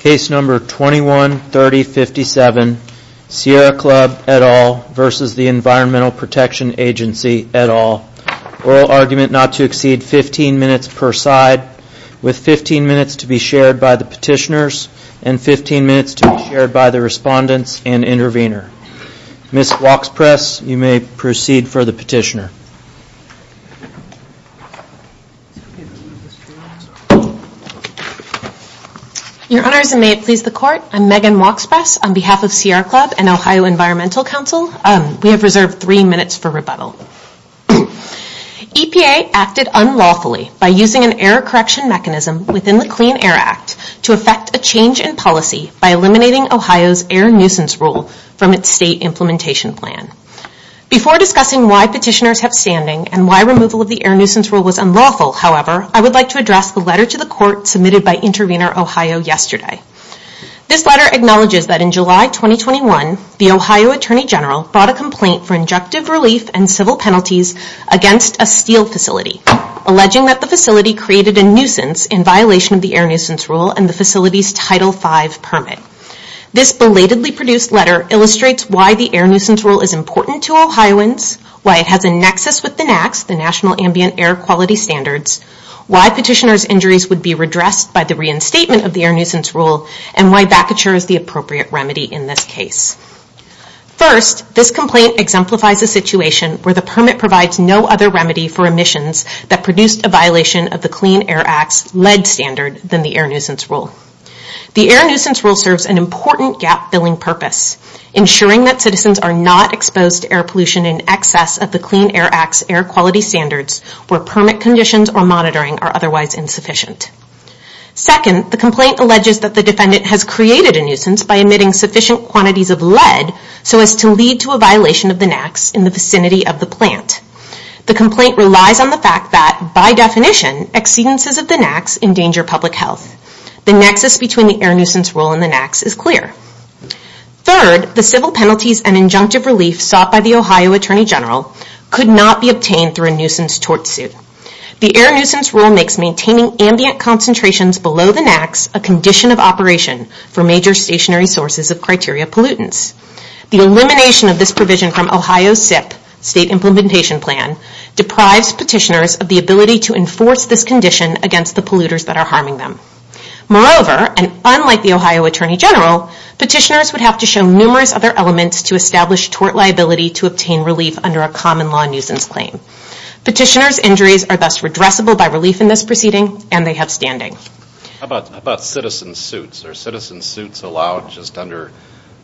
Case number 21-3057, Sierra Club, et al. v. Environmental Protection Agency, et al. Oral argument not to exceed 15 minutes per side, with 15 minutes to be shared by the petitioners and 15 minutes to be shared by the respondents and intervener. Ms. Woxpress, you may proceed for the petitioner. Your Honors, and may it please the Court, I'm Megan Woxpress on behalf of Sierra Club and Ohio Environmental Council. We have reserved three minutes for rebuttal. EPA acted unlawfully by using an error correction mechanism within the Clean Air Act to affect a change in policy by eliminating Ohio's air nuisance rule from its state implementation plan. Before discussing why petitioners have standing and why removal of the air nuisance rule was unlawful, however, I would like to address the letter to the Court submitted by Intervener Ohio yesterday. This letter acknowledges that in July 2021, the Ohio Attorney General brought a complaint for injunctive relief and civil penalties against a steel facility, alleging that the facility created a nuisance in violation of the air nuisance rule and the facility's Title V permit. This belatedly produced letter illustrates why the air nuisance rule is important to Ohioans, why it has a nexus with the NAAQS, the National Ambient Air Quality Standards, why petitioners' injuries would be redressed by the reinstatement of the air nuisance rule, and why vacatures the appropriate remedy in this case. First, this complaint exemplifies a situation where the permit provides no other remedy for emissions that produced a violation of the Clean Air Act's LED standard than the air nuisance rule. The air nuisance rule serves an important gap-filling purpose, ensuring that citizens are not exposed to air pollution in excess of the Clean Air Act's air quality standards where permit conditions or monitoring are otherwise insufficient. Second, the complaint alleges that the defendant has created a nuisance by emitting sufficient quantities of LED so as to lead to a violation of the NAAQS in the vicinity of the plant. The complaint relies on the fact that, by definition, exceedances of the NAAQS endanger public health. The nexus between the air nuisance rule and the NAAQS is clear. Third, the civil penalties and injunctive relief sought by the Ohio Attorney General could not be obtained through a nuisance tort suit. The air nuisance rule makes maintaining ambient concentrations below the NAAQS a condition of operation for major stationary sources of criteria pollutants. The elimination of this provision from Ohio's SIPP, State Implementation Plan, deprives petitioners of the ability to enforce this condition against the polluters that are harming them. Moreover, and unlike the Ohio Attorney General, petitioners would have to show numerous other elements to establish tort liability to obtain relief under a common law nuisance claim. Petitioners' injuries are thus redressable by relief in this proceeding, and they have standing. How about citizen suits? Are citizen suits allowed just under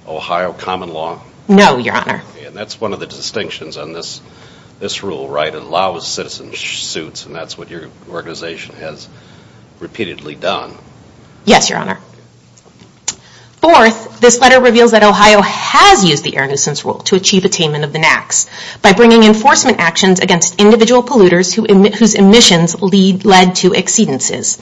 Ohio common law? No, Your Honor. And that's one of the distinctions on this rule, right? It allows citizen suits, and that's what your organization has repeatedly done. Yes, Your Honor. Fourth, this letter reveals that Ohio has used the air nuisance rule to achieve attainment of the NAAQS by bringing enforcement actions against individual polluters whose emissions lead to exceedances.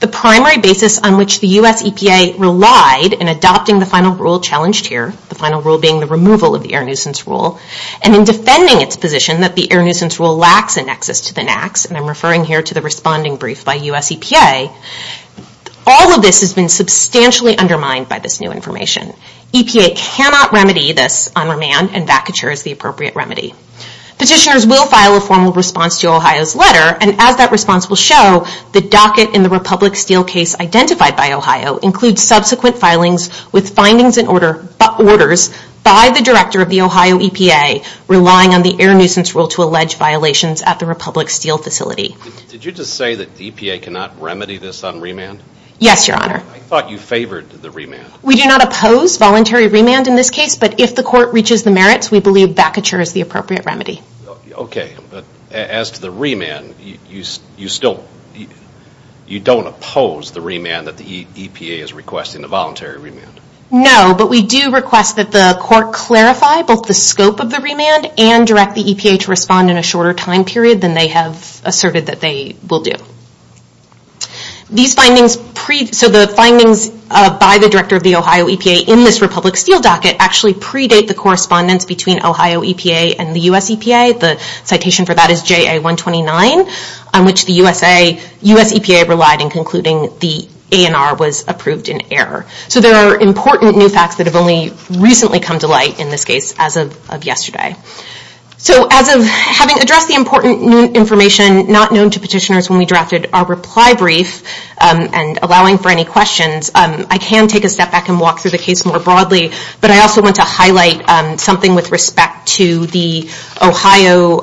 The primary basis on which the U.S. EPA relied in adopting the final rule challenged here, the final rule being the removal of the air nuisance rule, and in defending its position that the air nuisance rule lacks a nexus to the NAAQS, and I'm referring here to the responding brief by U.S. EPA, all of this has been substantially undermined by this new information. EPA cannot remedy this on remand, and vacature is the appropriate remedy. Petitioners will file a formal response to Ohio's letter, and as that response will show, the docket in the Republic Steel case identified by Ohio includes subsequent filings with findings and orders by the director of the Ohio EPA relying on the air nuisance rule to allege violations at the Republic Steel facility. Did you just say that the EPA cannot remedy this on remand? Yes, Your Honor. I thought you favored the remand. We do not oppose voluntary remand in this case, but if the court reaches the merits, we believe vacature is the appropriate remedy. Okay, but as to the remand, you don't oppose the remand that the EPA is requesting, the voluntary remand? No, but we do request that the court clarify both the scope of the remand, and direct the EPA to respond in a shorter time period than they have asserted that they will do. These findings, so the findings by the director of the Ohio EPA in this Republic Steel docket actually predate the correspondence between Ohio EPA and the U.S. EPA. The citation for that is JA-129, on which the U.S. EPA relied in concluding the ANR was approved in error. So there are important new facts that have only recently come to light in this case as of yesterday. So as of having addressed the important new information not known to petitioners when we drafted our reply brief and allowing for any questions, I can take a step back and walk through the case more broadly, but I also want to highlight something with respect to the Ohio,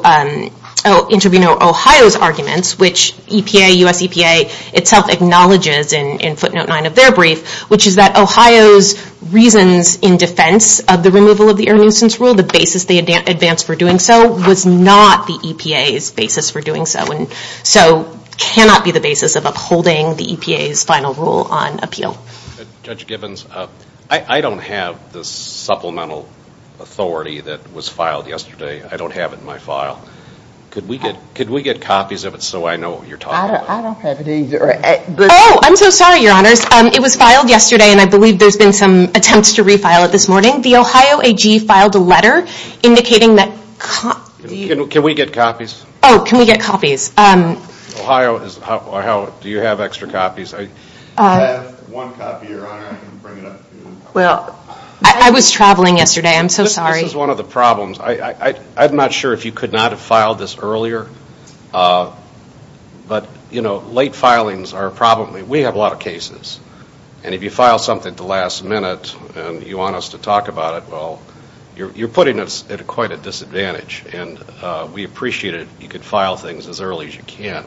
Intervenor Ohio's arguments, which EPA, U.S. EPA itself acknowledges in footnote 9 of their brief, which is that Ohio's reasons in defense of the removal of the air nuisance rule, the basis they advance for doing so, was not the EPA's basis for doing so, and so cannot be the basis of upholding the EPA's final rule on appeal. Judge Givens, I don't have the supplemental authority that was filed yesterday. I don't have it in my file. Could we get copies of it so I know what you're talking about? I don't have it either. Oh, I'm so sorry, Your Honors. It was filed yesterday, and I believe there's been some attempts to refile it this morning. The Ohio AG filed a letter indicating that copies. Can we get copies? Oh, can we get copies? Ohio, do you have extra copies? I have one copy, Your Honor. I can bring it up to you. I was traveling yesterday. I'm so sorry. This is one of the problems. I'm not sure if you could not have filed this earlier, but late filings are a problem. We have a lot of cases, and if you file something at the last minute and you want us to talk about it, well, you're putting us at quite a disadvantage, and we appreciate it. You can file things as early as you can.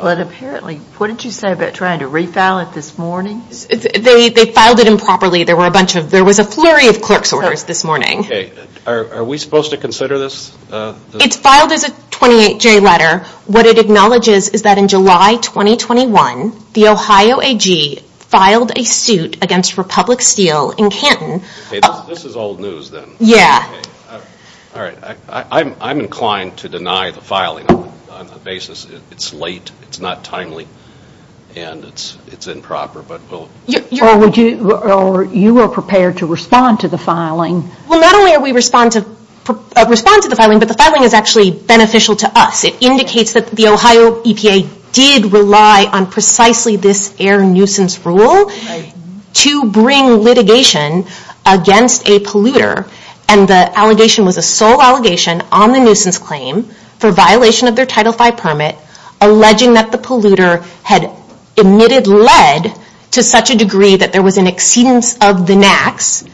But apparently, what did you say about trying to refile it this morning? They filed it improperly. There was a flurry of clerk's orders this morning. Okay. Are we supposed to consider this? It's filed as a 28-J letter. What it acknowledges is that in July 2021, the Ohio AG filed a suit against Republic Steel in Canton. This is old news then. Yeah. All right. I'm inclined to deny the filing on the basis it's late, it's not timely, and it's improper. You were prepared to respond to the filing. Well, not only did we respond to the filing, but the filing is actually beneficial to us. It indicates that the Ohio EPA did rely on precisely this air nuisance rule to bring litigation against a polluter, and the allegation was a sole allegation on the nuisance claim for violation of their Title V permit, alleging that the polluter had emitted lead to such a degree that there was an exceedance of the NAAQS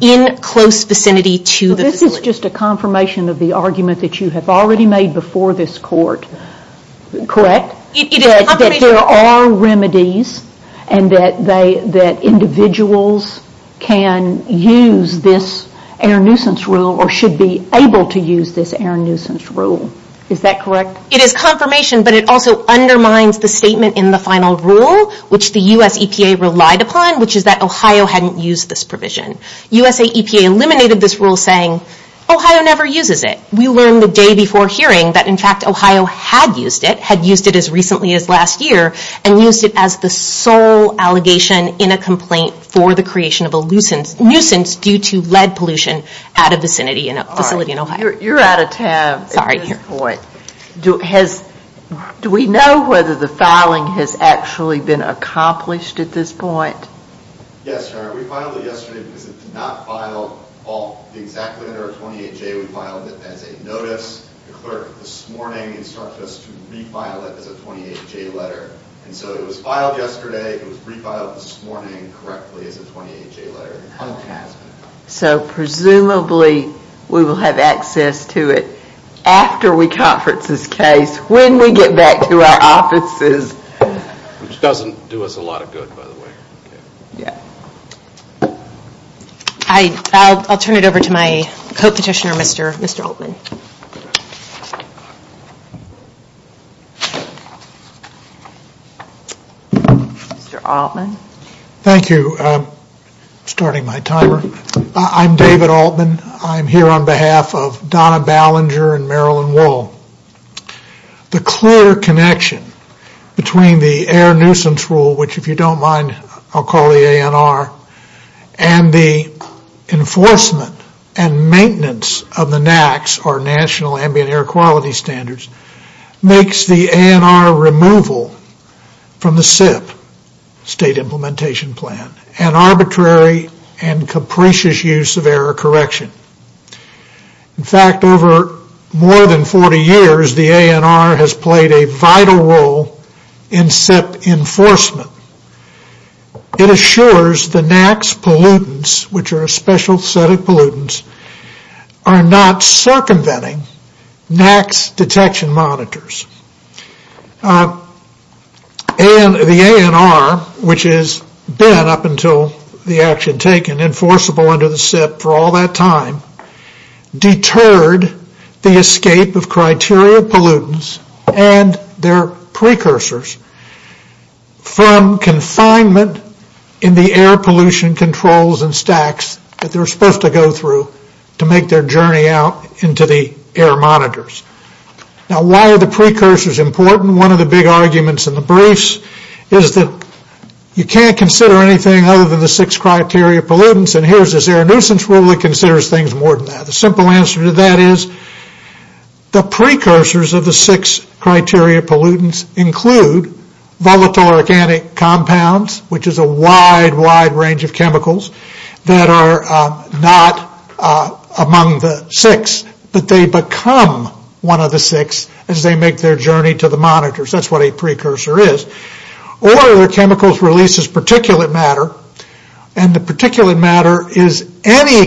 in close vicinity to the facility. This is just a confirmation of the argument that you have already made before this court, correct? It is confirmation. That there are remedies, and that individuals can use this air nuisance rule, or should be able to use this air nuisance rule. Is that correct? It is confirmation, but it also undermines the statement in the final rule, which the U.S. EPA relied upon, which is that Ohio hadn't used this provision. U.S. EPA eliminated this rule saying, Ohio never uses it. We learned the day before hearing that, in fact, Ohio had used it, had used it as recently as last year, and used it as the sole allegation in a complaint for the creation of a nuisance due to lead pollution at a vicinity, in a facility in Ohio. You are out of time at this point. Sorry. Do we know whether the filing has actually been accomplished at this point? Yes, sir. We filed it yesterday because it did not file exactly under a 28-J. We filed it as a notice. The clerk this morning instructed us to refile it as a 28-J letter. And so it was filed yesterday. It was refiled this morning correctly as a 28-J letter. The filing has been accomplished. So presumably we will have access to it after we conference this case, when we get back to our offices. Which doesn't do us a lot of good, by the way. Yeah. I'll turn it over to my co-petitioner, Mr. Altman. Mr. Altman. Thank you. I'm starting my timer. I'm David Altman. I'm here on behalf of Donna Ballinger and Marilyn Wohl. The clear connection between the Air Nuisance Rule, which if you don't mind, I'll call the ANR, and the enforcement and maintenance of the NAAQS, or National Ambient Air Quality Standards, makes the ANR removal from the SIP, State Implementation Plan, an arbitrary and capricious use of air correction. In fact, over more than 40 years, the ANR has played a vital role in SIP enforcement. It assures the NAAQS pollutants, which are a special set of pollutants, are not circumventing NAAQS detection monitors. The ANR, which has been, up until the action taken, enforceable under the SIP for all that time, deterred the escape of criteria pollutants and their precursors from confinement in the air pollution controls and stacks that they were supposed to go through to make their journey out into the air monitors. Now, why are the precursors important? One of the big arguments in the briefs is that you can't consider anything other than the six criteria pollutants, and here's the Air Nuisance Rule that considers things more than that. The simple answer to that is the precursors of the six criteria pollutants include volatile organic compounds, which is a wide, wide range of chemicals that are not among the six, but they become one of the six as they make their journey to the monitors. That's what a precursor is. Or their chemicals releases particulate matter, and the particulate matter is any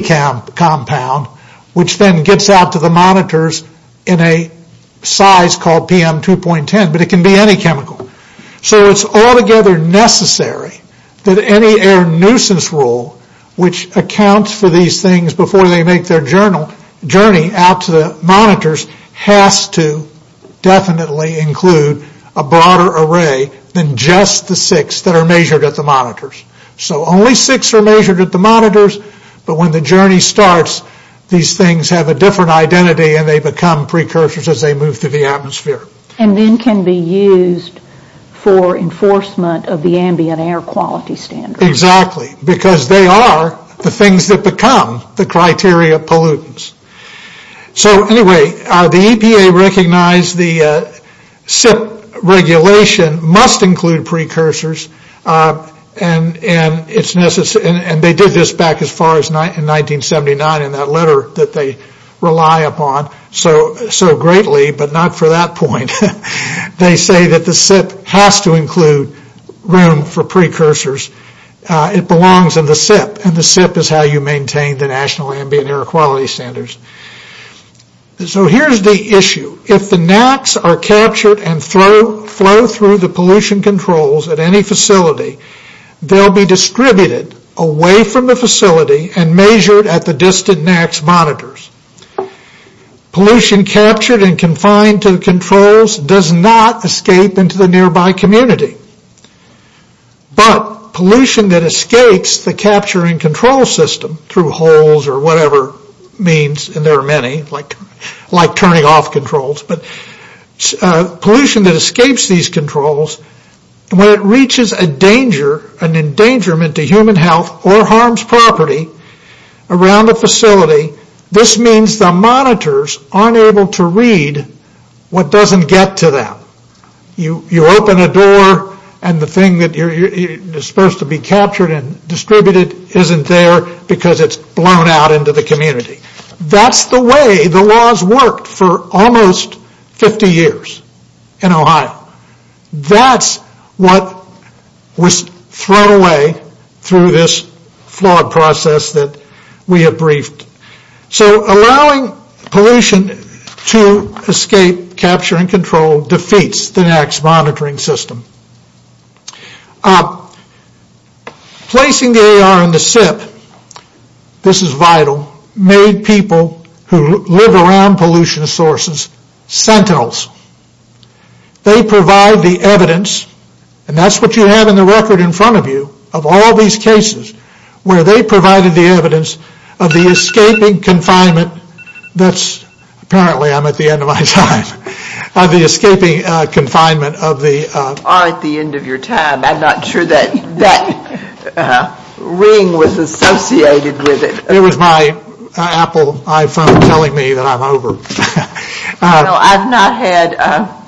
compound, which then gets out to the monitors in a size called PM2.10, but it can be any chemical. So it's altogether necessary that any Air Nuisance Rule, which accounts for these things before they make their journey out to the monitors, has to definitely include a broader array than just the six that are measured at the monitors. So only six are measured at the monitors, but when the journey starts, these things have a different identity and they become precursors as they move through the atmosphere. And then can be used for enforcement of the ambient air quality standards. Exactly, because they are the things that become the criteria pollutants. So anyway, the EPA recognized the SIP regulation must include precursors, and they did this back as far as in 1979 in that letter that they rely upon so greatly, but not for that point. They say that the SIP has to include room for precursors. It belongs in the SIP, and the SIP is how you maintain the National Ambient Air Quality Standards. So here's the issue. If the NACs are captured and flow through the pollution controls at any facility, they'll be distributed away from the facility and measured at the distant NACs monitors. Pollution captured and confined to the controls does not escape into the nearby community, but pollution that escapes the capture and control system through holes or whatever means, and there are many, like turning off controls, but pollution that escapes these controls, when it reaches a danger, an endangerment to human health or harms property around a facility, this means the monitors aren't able to read what doesn't get to them. You open a door, and the thing that is supposed to be captured and distributed isn't there because it's blown out into the community. That's the way the laws worked for almost 50 years in Ohio. That's what was thrown away through this flawed process that we have briefed. So allowing pollution to escape capture and control defeats the NACs monitoring system. Placing the AR in the SIP, this is vital, made people who live around pollution sources sentinels. They provide the evidence, and that's what you have in the record in front of you, of all these cases, where they provided the evidence of the escaping confinement, that's apparently I'm at the end of my time, of the escaping confinement of the... You are at the end of your time. I'm not sure that ring was associated with it. It was my Apple iPhone telling me that I'm over. No, I've not had...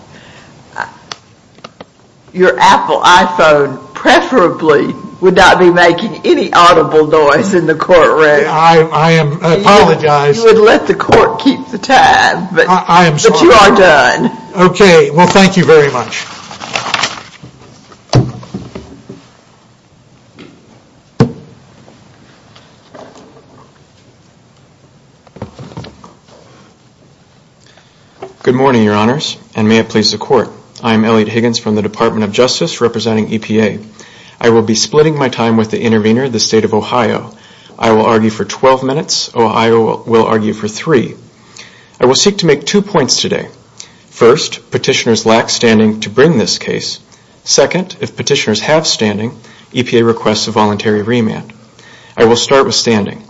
Your Apple iPhone preferably would not be making any audible noise in the courtroom. I apologize. You would let the court keep the time, but you are done. Okay, well thank you very much. Good morning, your honors, and may it please the court. I'm Elliot Higgins from the Department of Justice representing EPA. I will be splitting my time with the intervener, the state of Ohio. I will argue for 12 minutes. Ohio will argue for three. I will seek to make two points today. First, petitioners lack standing to bring this case. Second, if petitioners have standing, EPA requests a voluntary remand. I will start with standing.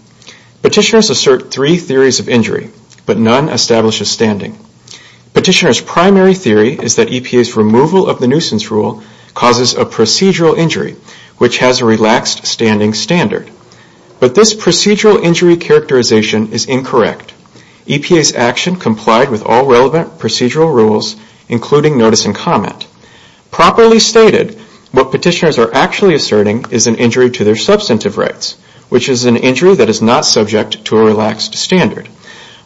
Petitioners assert three theories of injury, but none establishes standing. Petitioners' primary theory is that EPA's removal of the nuisance rule causes a procedural injury, which has a relaxed standing standard. But this procedural injury characterization is incorrect. EPA's action complied with all relevant procedural rules, including notice and comment. Properly stated, what petitioners are actually asserting is an injury to their substantive rights, which is an injury that is not subject to a relaxed standard.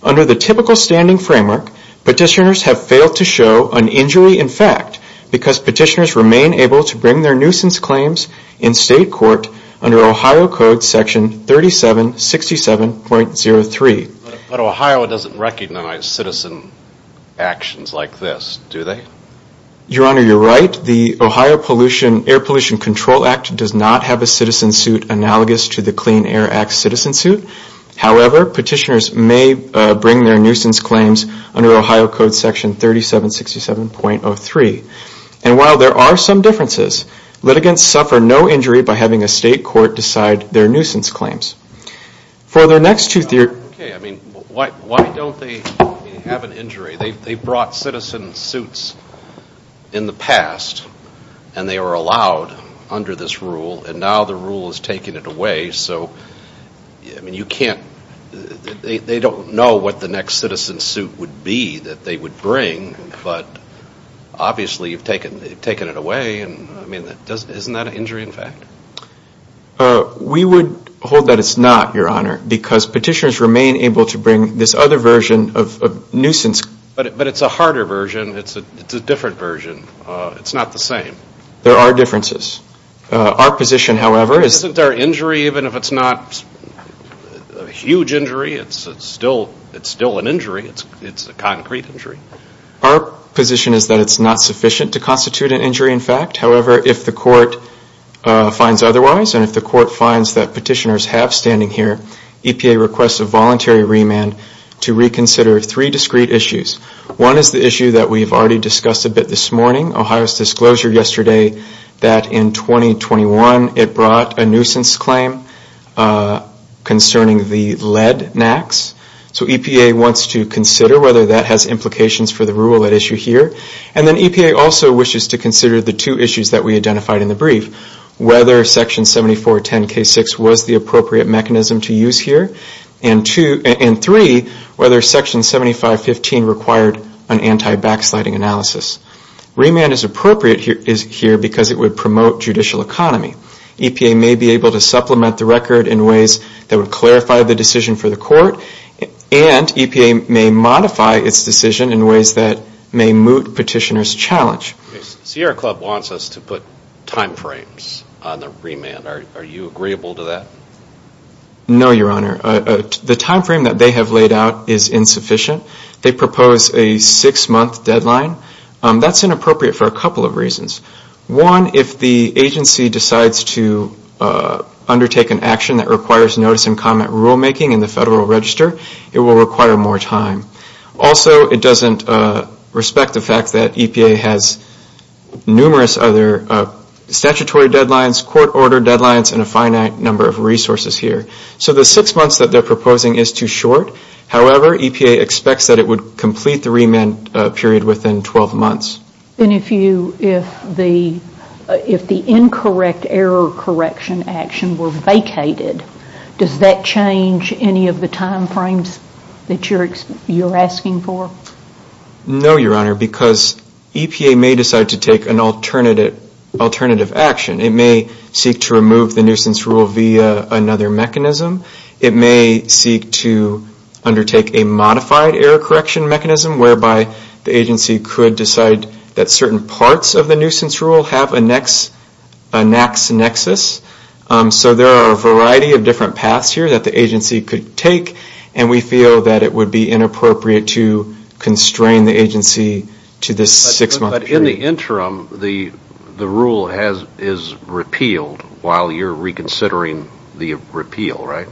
Under the typical standing framework, petitioners have failed to show an injury in fact because petitioners remain able to bring their nuisance claims in state court under Ohio Code Section 3767.03. But Ohio doesn't recognize citizen actions like this, do they? Your honor, you're right. Fourth, the Ohio Air Pollution Control Act does not have a citizen suit analogous to the Clean Air Act citizen suit. However, petitioners may bring their nuisance claims under Ohio Code Section 3767.03. And while there are some differences, litigants suffer no injury by having a state court decide their nuisance claims. For their next two theories, Okay, I mean, why don't they have an injury? They've brought citizen suits in the past, and they were allowed under this rule, and now the rule is taking it away. So, I mean, you can't, they don't know what the next citizen suit would be that they would bring, but obviously you've taken it away. I mean, isn't that an injury in fact? We would hold that it's not, your honor, because petitioners remain able to bring this other version of nuisance. But it's a harder version. It's a different version. It's not the same. There are differences. Our position, however, is Isn't there injury even if it's not a huge injury? It's still an injury. It's a concrete injury. Our position is that it's not sufficient to constitute an injury in fact. However, if the court finds otherwise, and if the court finds that petitioners have standing here, EPA requests a voluntary remand to reconsider three discrete issues. One is the issue that we've already discussed a bit this morning, Ohio's disclosure yesterday that in 2021 it brought a nuisance claim concerning the lead NACs. So EPA wants to consider whether that has implications for the rule at issue here. And then EPA also wishes to consider the two issues that we identified in the brief, whether Section 7410K6 was the appropriate mechanism to use here, and three, whether Section 7515 required an anti-backsliding analysis. Remand is appropriate here because it would promote judicial economy. EPA may be able to supplement the record in ways that would clarify the decision for the court, and EPA may modify its decision in ways that may moot petitioners' challenge. Sierra Club wants us to put time frames on the remand. Are you agreeable to that? No, Your Honor. The time frame that they have laid out is insufficient. They propose a six-month deadline. That's inappropriate for a couple of reasons. One, if the agency decides to undertake an action that requires notice and comment rulemaking in the Federal Register, it will require more time. Also, it doesn't respect the fact that EPA has numerous other statutory deadlines, court order deadlines, and a finite number of resources here. So the six months that they're proposing is too short. However, EPA expects that it would complete the remand period within 12 months. And if the incorrect error correction action were vacated, does that change any of the time frames that you're asking for? No, Your Honor, because EPA may decide to take an alternative action. It may seek to remove the nuisance rule via another mechanism. It may seek to undertake a modified error correction mechanism, whereby the agency could decide that certain parts of the nuisance rule have a NAICS nexus. So there are a variety of different paths here that the agency could take, and we feel that it would be inappropriate to constrain the agency to this six-month period. But in the interim, the rule is repealed while you're reconsidering the repeal, right?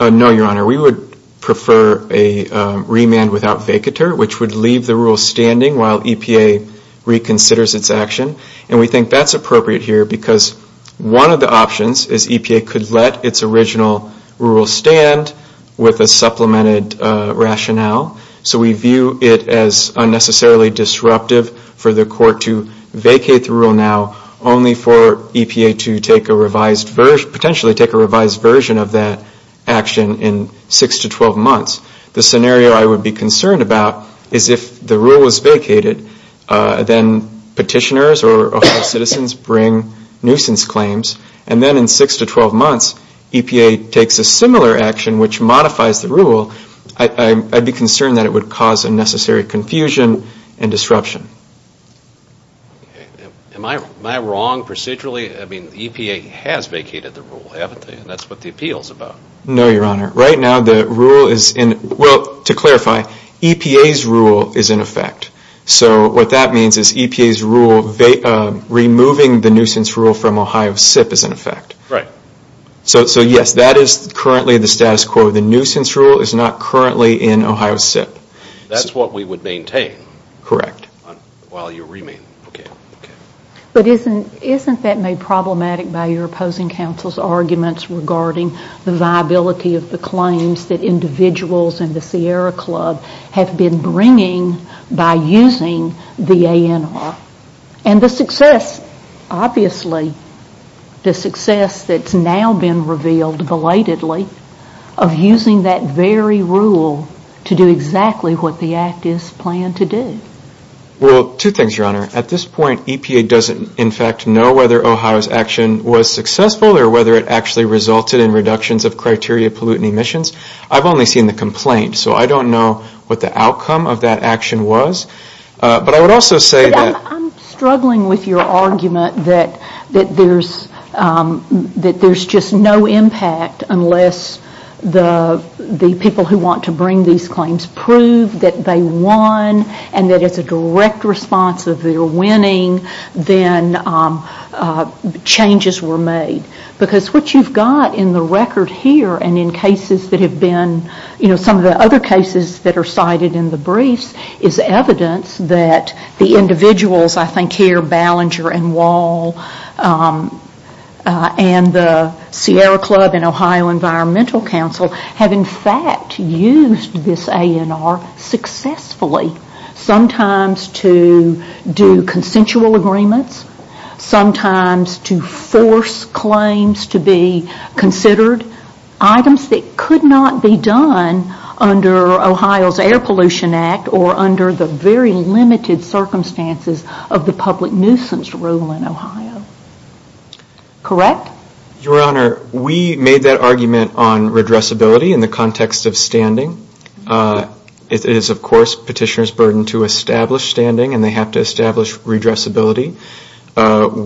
No, Your Honor. We would prefer a remand without vacatur, which would leave the rule standing while EPA reconsiders its action. And we think that's appropriate here because one of the options is EPA could let its original rule stand with a supplemented rationale. So we view it as unnecessarily disruptive for the court to vacate the rule now, only for EPA to potentially take a revised version of that action in six to 12 months. The scenario I would be concerned about is if the rule was vacated, then petitioners or citizens bring nuisance claims, and then in six to 12 months EPA takes a similar action which modifies the rule, I'd be concerned that it would cause unnecessary confusion and disruption. Am I wrong procedurally? I mean, EPA has vacated the rule, haven't they? And that's what the appeal is about. No, Your Honor. Right now the rule is in – well, to clarify, EPA's rule is in effect. So what that means is EPA's rule, removing the nuisance rule from Ohio SIP is in effect. Right. So yes, that is currently the status quo. The nuisance rule is not currently in Ohio SIP. That's what we would maintain. Correct. While you remain. Okay. But isn't that made problematic by your opposing counsel's arguments regarding the viability of the claims that individuals in the Sierra Club have been bringing by using the ANR? And the success, obviously, the success that's now been revealed belatedly, of using that very rule to do exactly what the act is planned to do. Well, two things, Your Honor. At this point EPA doesn't in fact know whether Ohio's action was successful or whether it actually resulted in reductions of criteria pollutant emissions. I've only seen the complaint. So I don't know what the outcome of that action was. But I would also say that – But I'm struggling with your argument that there's just no impact unless the people who want to bring these claims prove that they won and that it's a direct response of their winning, then changes were made. Because what you've got in the record here and in cases that have been – some of the other cases that are cited in the briefs is evidence that the individuals, I think here Ballinger and Wall and the Sierra Club and Ohio Environmental Council have in fact used this ANR successfully sometimes to do consensual agreements, sometimes to force claims to be considered, items that could not be done under Ohio's Air Pollution Act or under the very limited circumstances of the public nuisance rule in Ohio. Correct? Your Honor, we made that argument on redressability in the context of standing. It is of course petitioner's burden to establish standing and they have to establish redressability.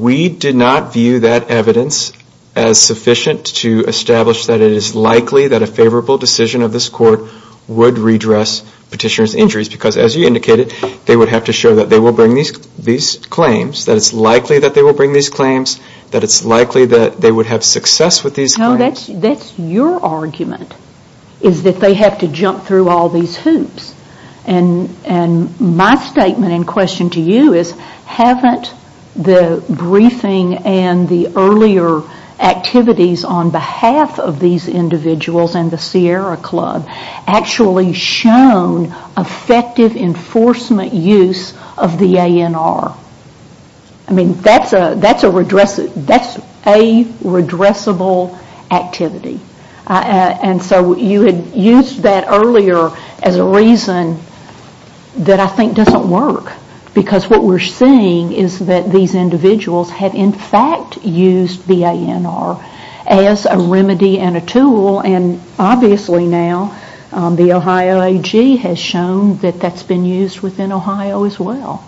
We did not view that evidence as sufficient to establish that it is likely that a favorable decision of this court would redress petitioner's injuries. Because as you indicated, they would have to show that they will bring these claims, that it's likely that they will bring these claims, that it's likely that they would have success with these claims. No, that's your argument, is that they have to jump through all these hoops. And my statement in question to you is, haven't the briefing and the earlier activities on behalf of these individuals and the Sierra Club actually shown effective enforcement use of the ANR? I mean, that's a redressable activity. And so you had used that earlier as a reason that I think doesn't work. Because what we're seeing is that these individuals have in fact used the ANR as a remedy and a tool and obviously now the Ohio AG has shown that that's been used within Ohio as well.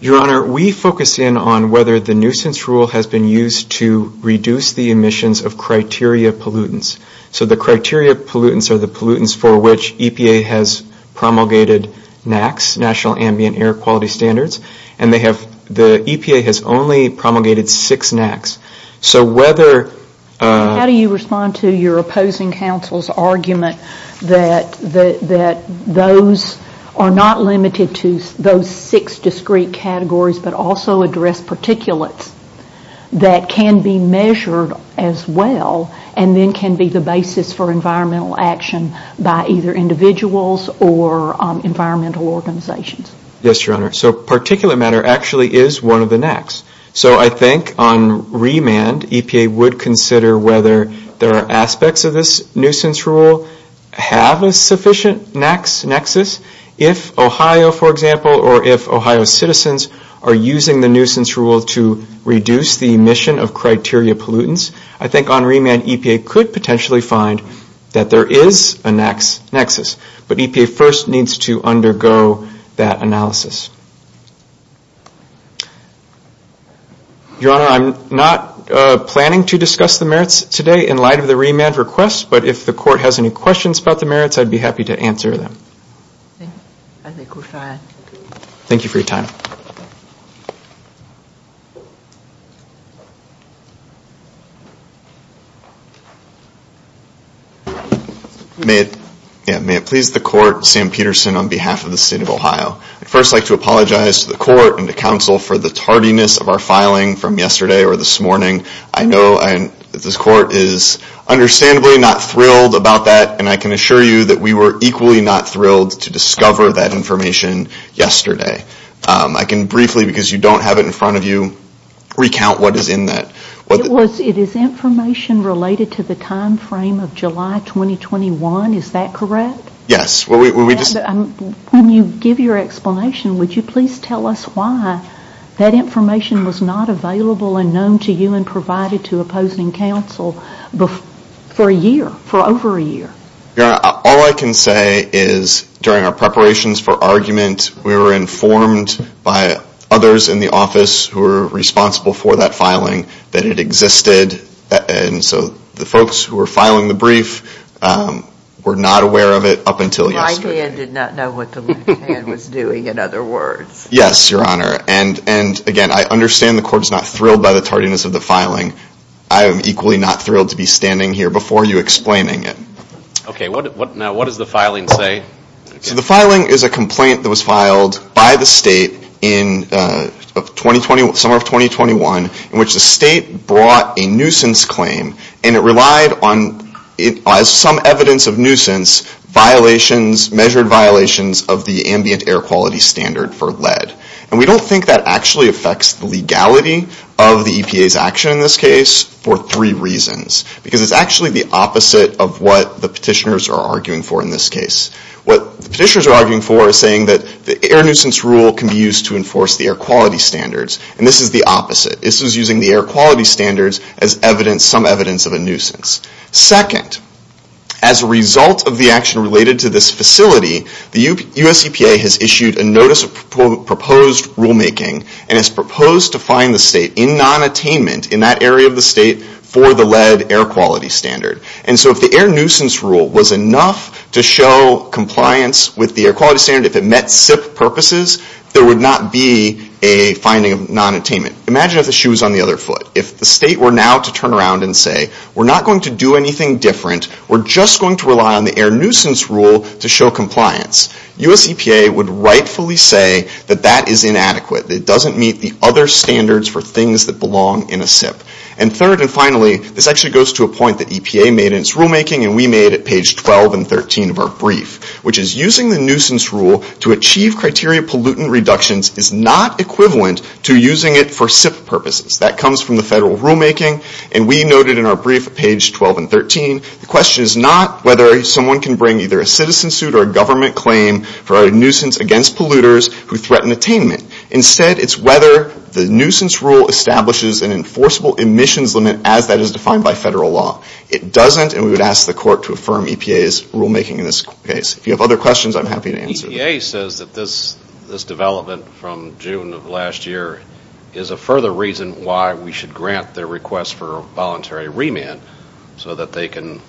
Your Honor, we focus in on whether the nuisance rule has been used to reduce the emissions of criteria pollutants. So the criteria pollutants are the pollutants for which EPA has promulgated NACs, National Ambient Air Quality Standards, and the EPA has only promulgated six NACs. So whether... How do you respond to your opposing counsel's argument that those are not limited to those six discrete categories, but also address particulates that can be measured as well and then can be the basis for environmental action by either individuals or environmental organizations? Yes, Your Honor. So particulate matter actually is one of the NACs. So I think on remand EPA would consider whether there are aspects of this nuisance rule have a sufficient NACs nexus. If Ohio, for example, or if Ohio citizens are using the nuisance rule to reduce the emission of criteria pollutants, I think on remand EPA could potentially find that there is a NACs nexus. But EPA first needs to undergo that analysis. Your Honor, I'm not planning to discuss the merits today in light of the remand request, but if the court has any questions about the merits, I'd be happy to answer them. I think we're fine. Thank you for your time. May it please the court, Sam Peterson on behalf of the state of Ohio. I'd first like to apologize to the court and the counsel for the tardiness of our filing from yesterday or this morning. I know this court is understandably not thrilled about that, and I can assure you that we were equally not thrilled to discover that information yesterday. I can briefly, because you don't have it in front of you, recount what is in that. It is information related to the time frame of July 2021. Is that correct? Yes. When you give your explanation, would you please tell us why that information was not available and known to you and provided to opposing counsel for a year, for over a year? Your Honor, all I can say is during our preparations for argument, we were informed by others in the office who were responsible for that filing that it existed. So the folks who were filing the brief were not aware of it up until yesterday. My hand did not know what the left hand was doing, in other words. Yes, Your Honor. Again, I understand the court is not thrilled by the tardiness of the filing. I am equally not thrilled to be standing here before you explaining it. Okay. Now what does the filing say? The filing is a complaint that was filed by the state in the summer of 2021 in which the state brought a nuisance claim, and it relied on some evidence of nuisance violations, measured violations of the ambient air quality standard for lead. And we don't think that actually affects the legality of the EPA's action in this case for three reasons. Because it's actually the opposite of what the petitioners are arguing for in this case. What the petitioners are arguing for is saying that the air nuisance rule can be used to enforce the air quality standards. And this is the opposite. This is using the air quality standards as some evidence of a nuisance. Second, as a result of the action related to this facility, the US EPA has issued a notice of proposed rulemaking and has proposed to fine the state in non-attainment in that area of the state for the lead air quality standard. And so if the air nuisance rule was enough to show compliance with the air quality standard, if it met SIP purposes, there would not be a finding of non-attainment. Imagine if the shoe was on the other foot. If the state were now to turn around and say, we're not going to do anything different, we're just going to rely on the air nuisance rule to show compliance. US EPA would rightfully say that that is inadequate. It doesn't meet the other standards for things that belong in a SIP. And third and finally, this actually goes to a point that EPA made in its rulemaking, and we made at page 12 and 13 of our brief, which is using the nuisance rule to achieve criteria pollutant reductions is not equivalent to using it for SIP purposes. That comes from the federal rulemaking, and we noted in our brief at page 12 and 13, the question is not whether someone can bring either a citizen suit or a government claim for a nuisance against polluters who threaten attainment. Instead, it's whether the nuisance rule establishes an enforceable emissions limit as that is defined by federal law. It doesn't, and we would ask the court to affirm EPA's rulemaking in this case. If you have other questions, I'm happy to answer them. EPA says that this development from June of last year is a further reason why we should grant their request for voluntary remand so that they can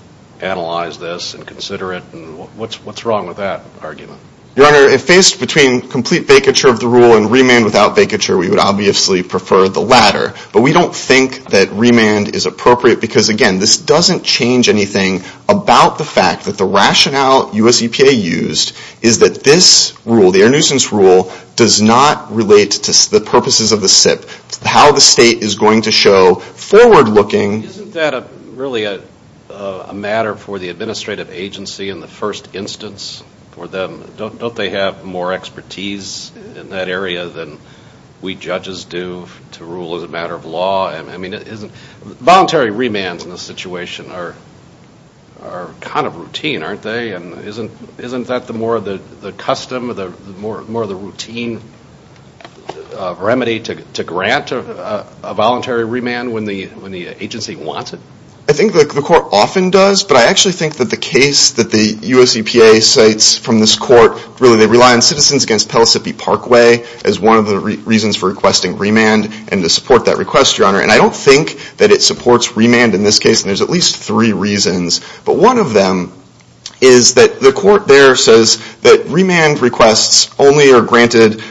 analyze this and consider it. What's wrong with that argument? Your Honor, if faced between complete vacature of the rule and remand without vacature, we would obviously prefer the latter. But we don't think that remand is appropriate because, again, this doesn't change anything about the fact that the rationale U.S. EPA used is that this rule, the air nuisance rule, does not relate to the purposes of the SIP. How the state is going to show forward-looking... Isn't that really a matter for the administrative agency in the first instance for them? Don't they have more expertise in that area than we judges do to rule as a matter of law? I mean, voluntary remands in this situation are kind of routine, aren't they? And isn't that more of the custom, more of the routine remedy to grant a voluntary remand when the agency wants it? I think the court often does, but I actually think that the case that the U.S. EPA cites from this court, really they rely on Citizens Against Pellissippi Parkway as one of the reasons for requesting remand and to support that request, Your Honor. And I don't think that it supports remand in this case, and there's at least three reasons. But one of them is that the court there says that remand requests only are granted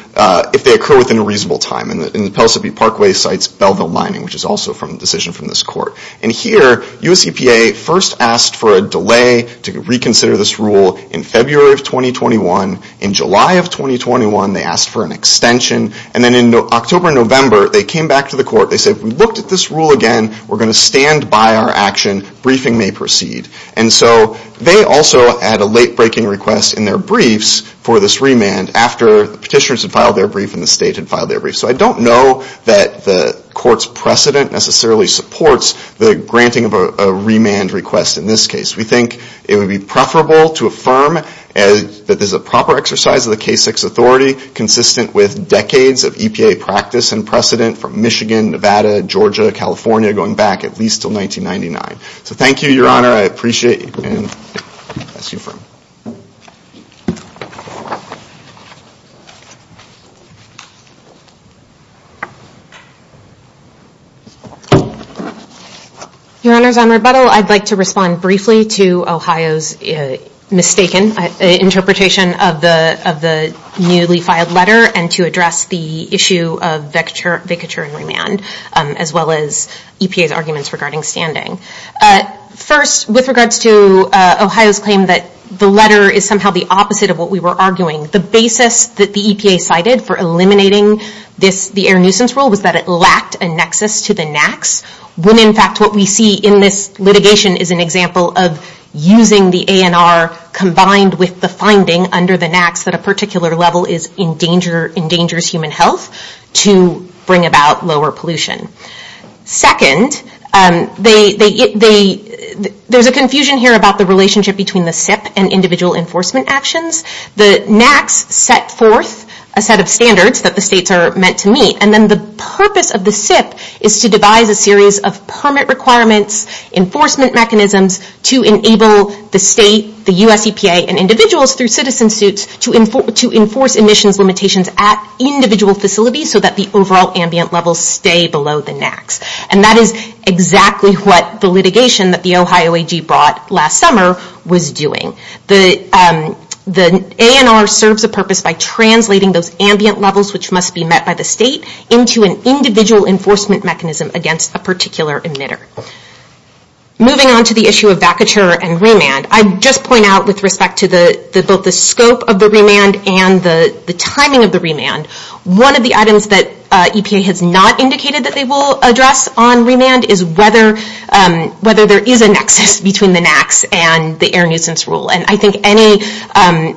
if they occur within a reasonable time. And the Pellissippi Parkway cites Belleville Mining, which is also a decision from this court. And here, U.S. EPA first asked for a delay to reconsider this rule in February of 2021. In July of 2021, they asked for an extension. And then in October and November, they came back to the court. They said, if we looked at this rule again, we're going to stand by our action. Briefing may proceed. And so they also had a late-breaking request in their briefs for this remand after the petitioners had filed their brief and the state had filed their brief. So I don't know that the court's precedent necessarily supports the granting of a remand request in this case. We think it would be preferable to affirm that this is a proper exercise of the K6 authority consistent with decades of EPA practice and precedent from Michigan, Nevada, Georgia, California, going back at least until 1999. So thank you, Your Honor. I appreciate it. That's your firm. Your Honors, on rebuttal, I'd like to respond briefly to Ohio's mistaken interpretation of the newly filed letter and to address the issue of vacature and remand, as well as EPA's arguments regarding standing. First, with regards to Ohio's claim that the letter is somehow the opposite of what we were arguing, the basis that the EPA cited for eliminating the air nuisance rule was that it lacked a nexus to the NAAQS, when in fact what we see in this litigation is an example of using the ANR combined with the finding under the NAAQS that a particular level endangers human health to bring about lower pollution. Second, there's a confusion here about the relationship between the SIP and individual enforcement actions. The NAAQS set forth a set of standards that the states are meant to meet, and then the purpose of the SIP is to devise a series of permit requirements, enforcement mechanisms, to enable the state, the U.S. EPA, and individuals through citizen suits to enforce emissions limitations at individual facilities so that the overall ambient levels stay below the NAAQS. And that is exactly what the litigation that the Ohio AG brought last summer was doing. The ANR serves a purpose by translating those ambient levels which must be met by the state into an individual enforcement mechanism against a particular emitter. Moving on to the issue of vacature and remand, I'd just point out with respect to both the scope of the remand and the timing of the remand, one of the items that EPA has not indicated that they will address on remand is whether there is a nexus between the NAAQS and the Air Nuisance Rule. And I think any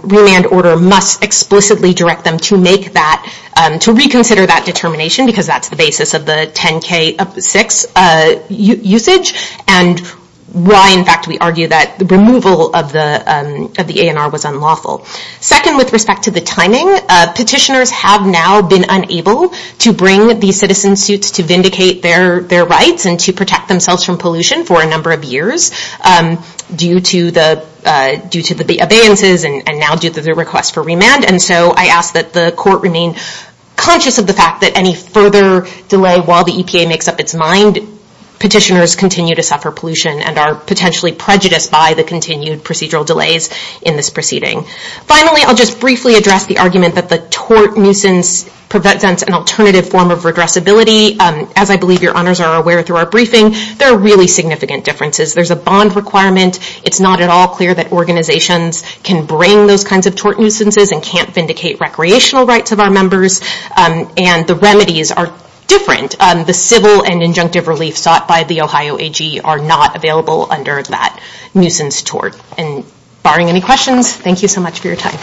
remand order must explicitly direct them to reconsider that determination because that's the basis of the 10-K-6 usage, and why, in fact, we argue that the removal of the ANR was unlawful. Second, with respect to the timing, petitioners have now been unable to bring these citizen suits to vindicate their rights and to protect themselves from pollution for a number of years due to the abeyances and now due to the request for remand. And so I ask that the court remain conscious of the fact that any further delay while the EPA makes up its mind, petitioners continue to suffer pollution and are potentially prejudiced by the continued procedural delays in this proceeding. Finally, I'll just briefly address the argument that the tort nuisance presents an alternative form of redressability. As I believe your honors are aware through our briefing, there are really significant differences. There's a bond requirement. It's not at all clear that organizations can bring those kinds of tort nuisances and can't vindicate recreational rights of our members, and the remedies are different. The civil and injunctive relief sought by the Ohio AG are not available under that nuisance tort. And barring any questions, thank you so much for your time.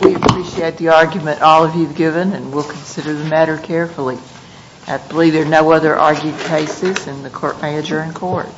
We appreciate the argument all of you have given, and we'll consider the matter carefully. I believe there are no other argued cases, and the court may adjourn court.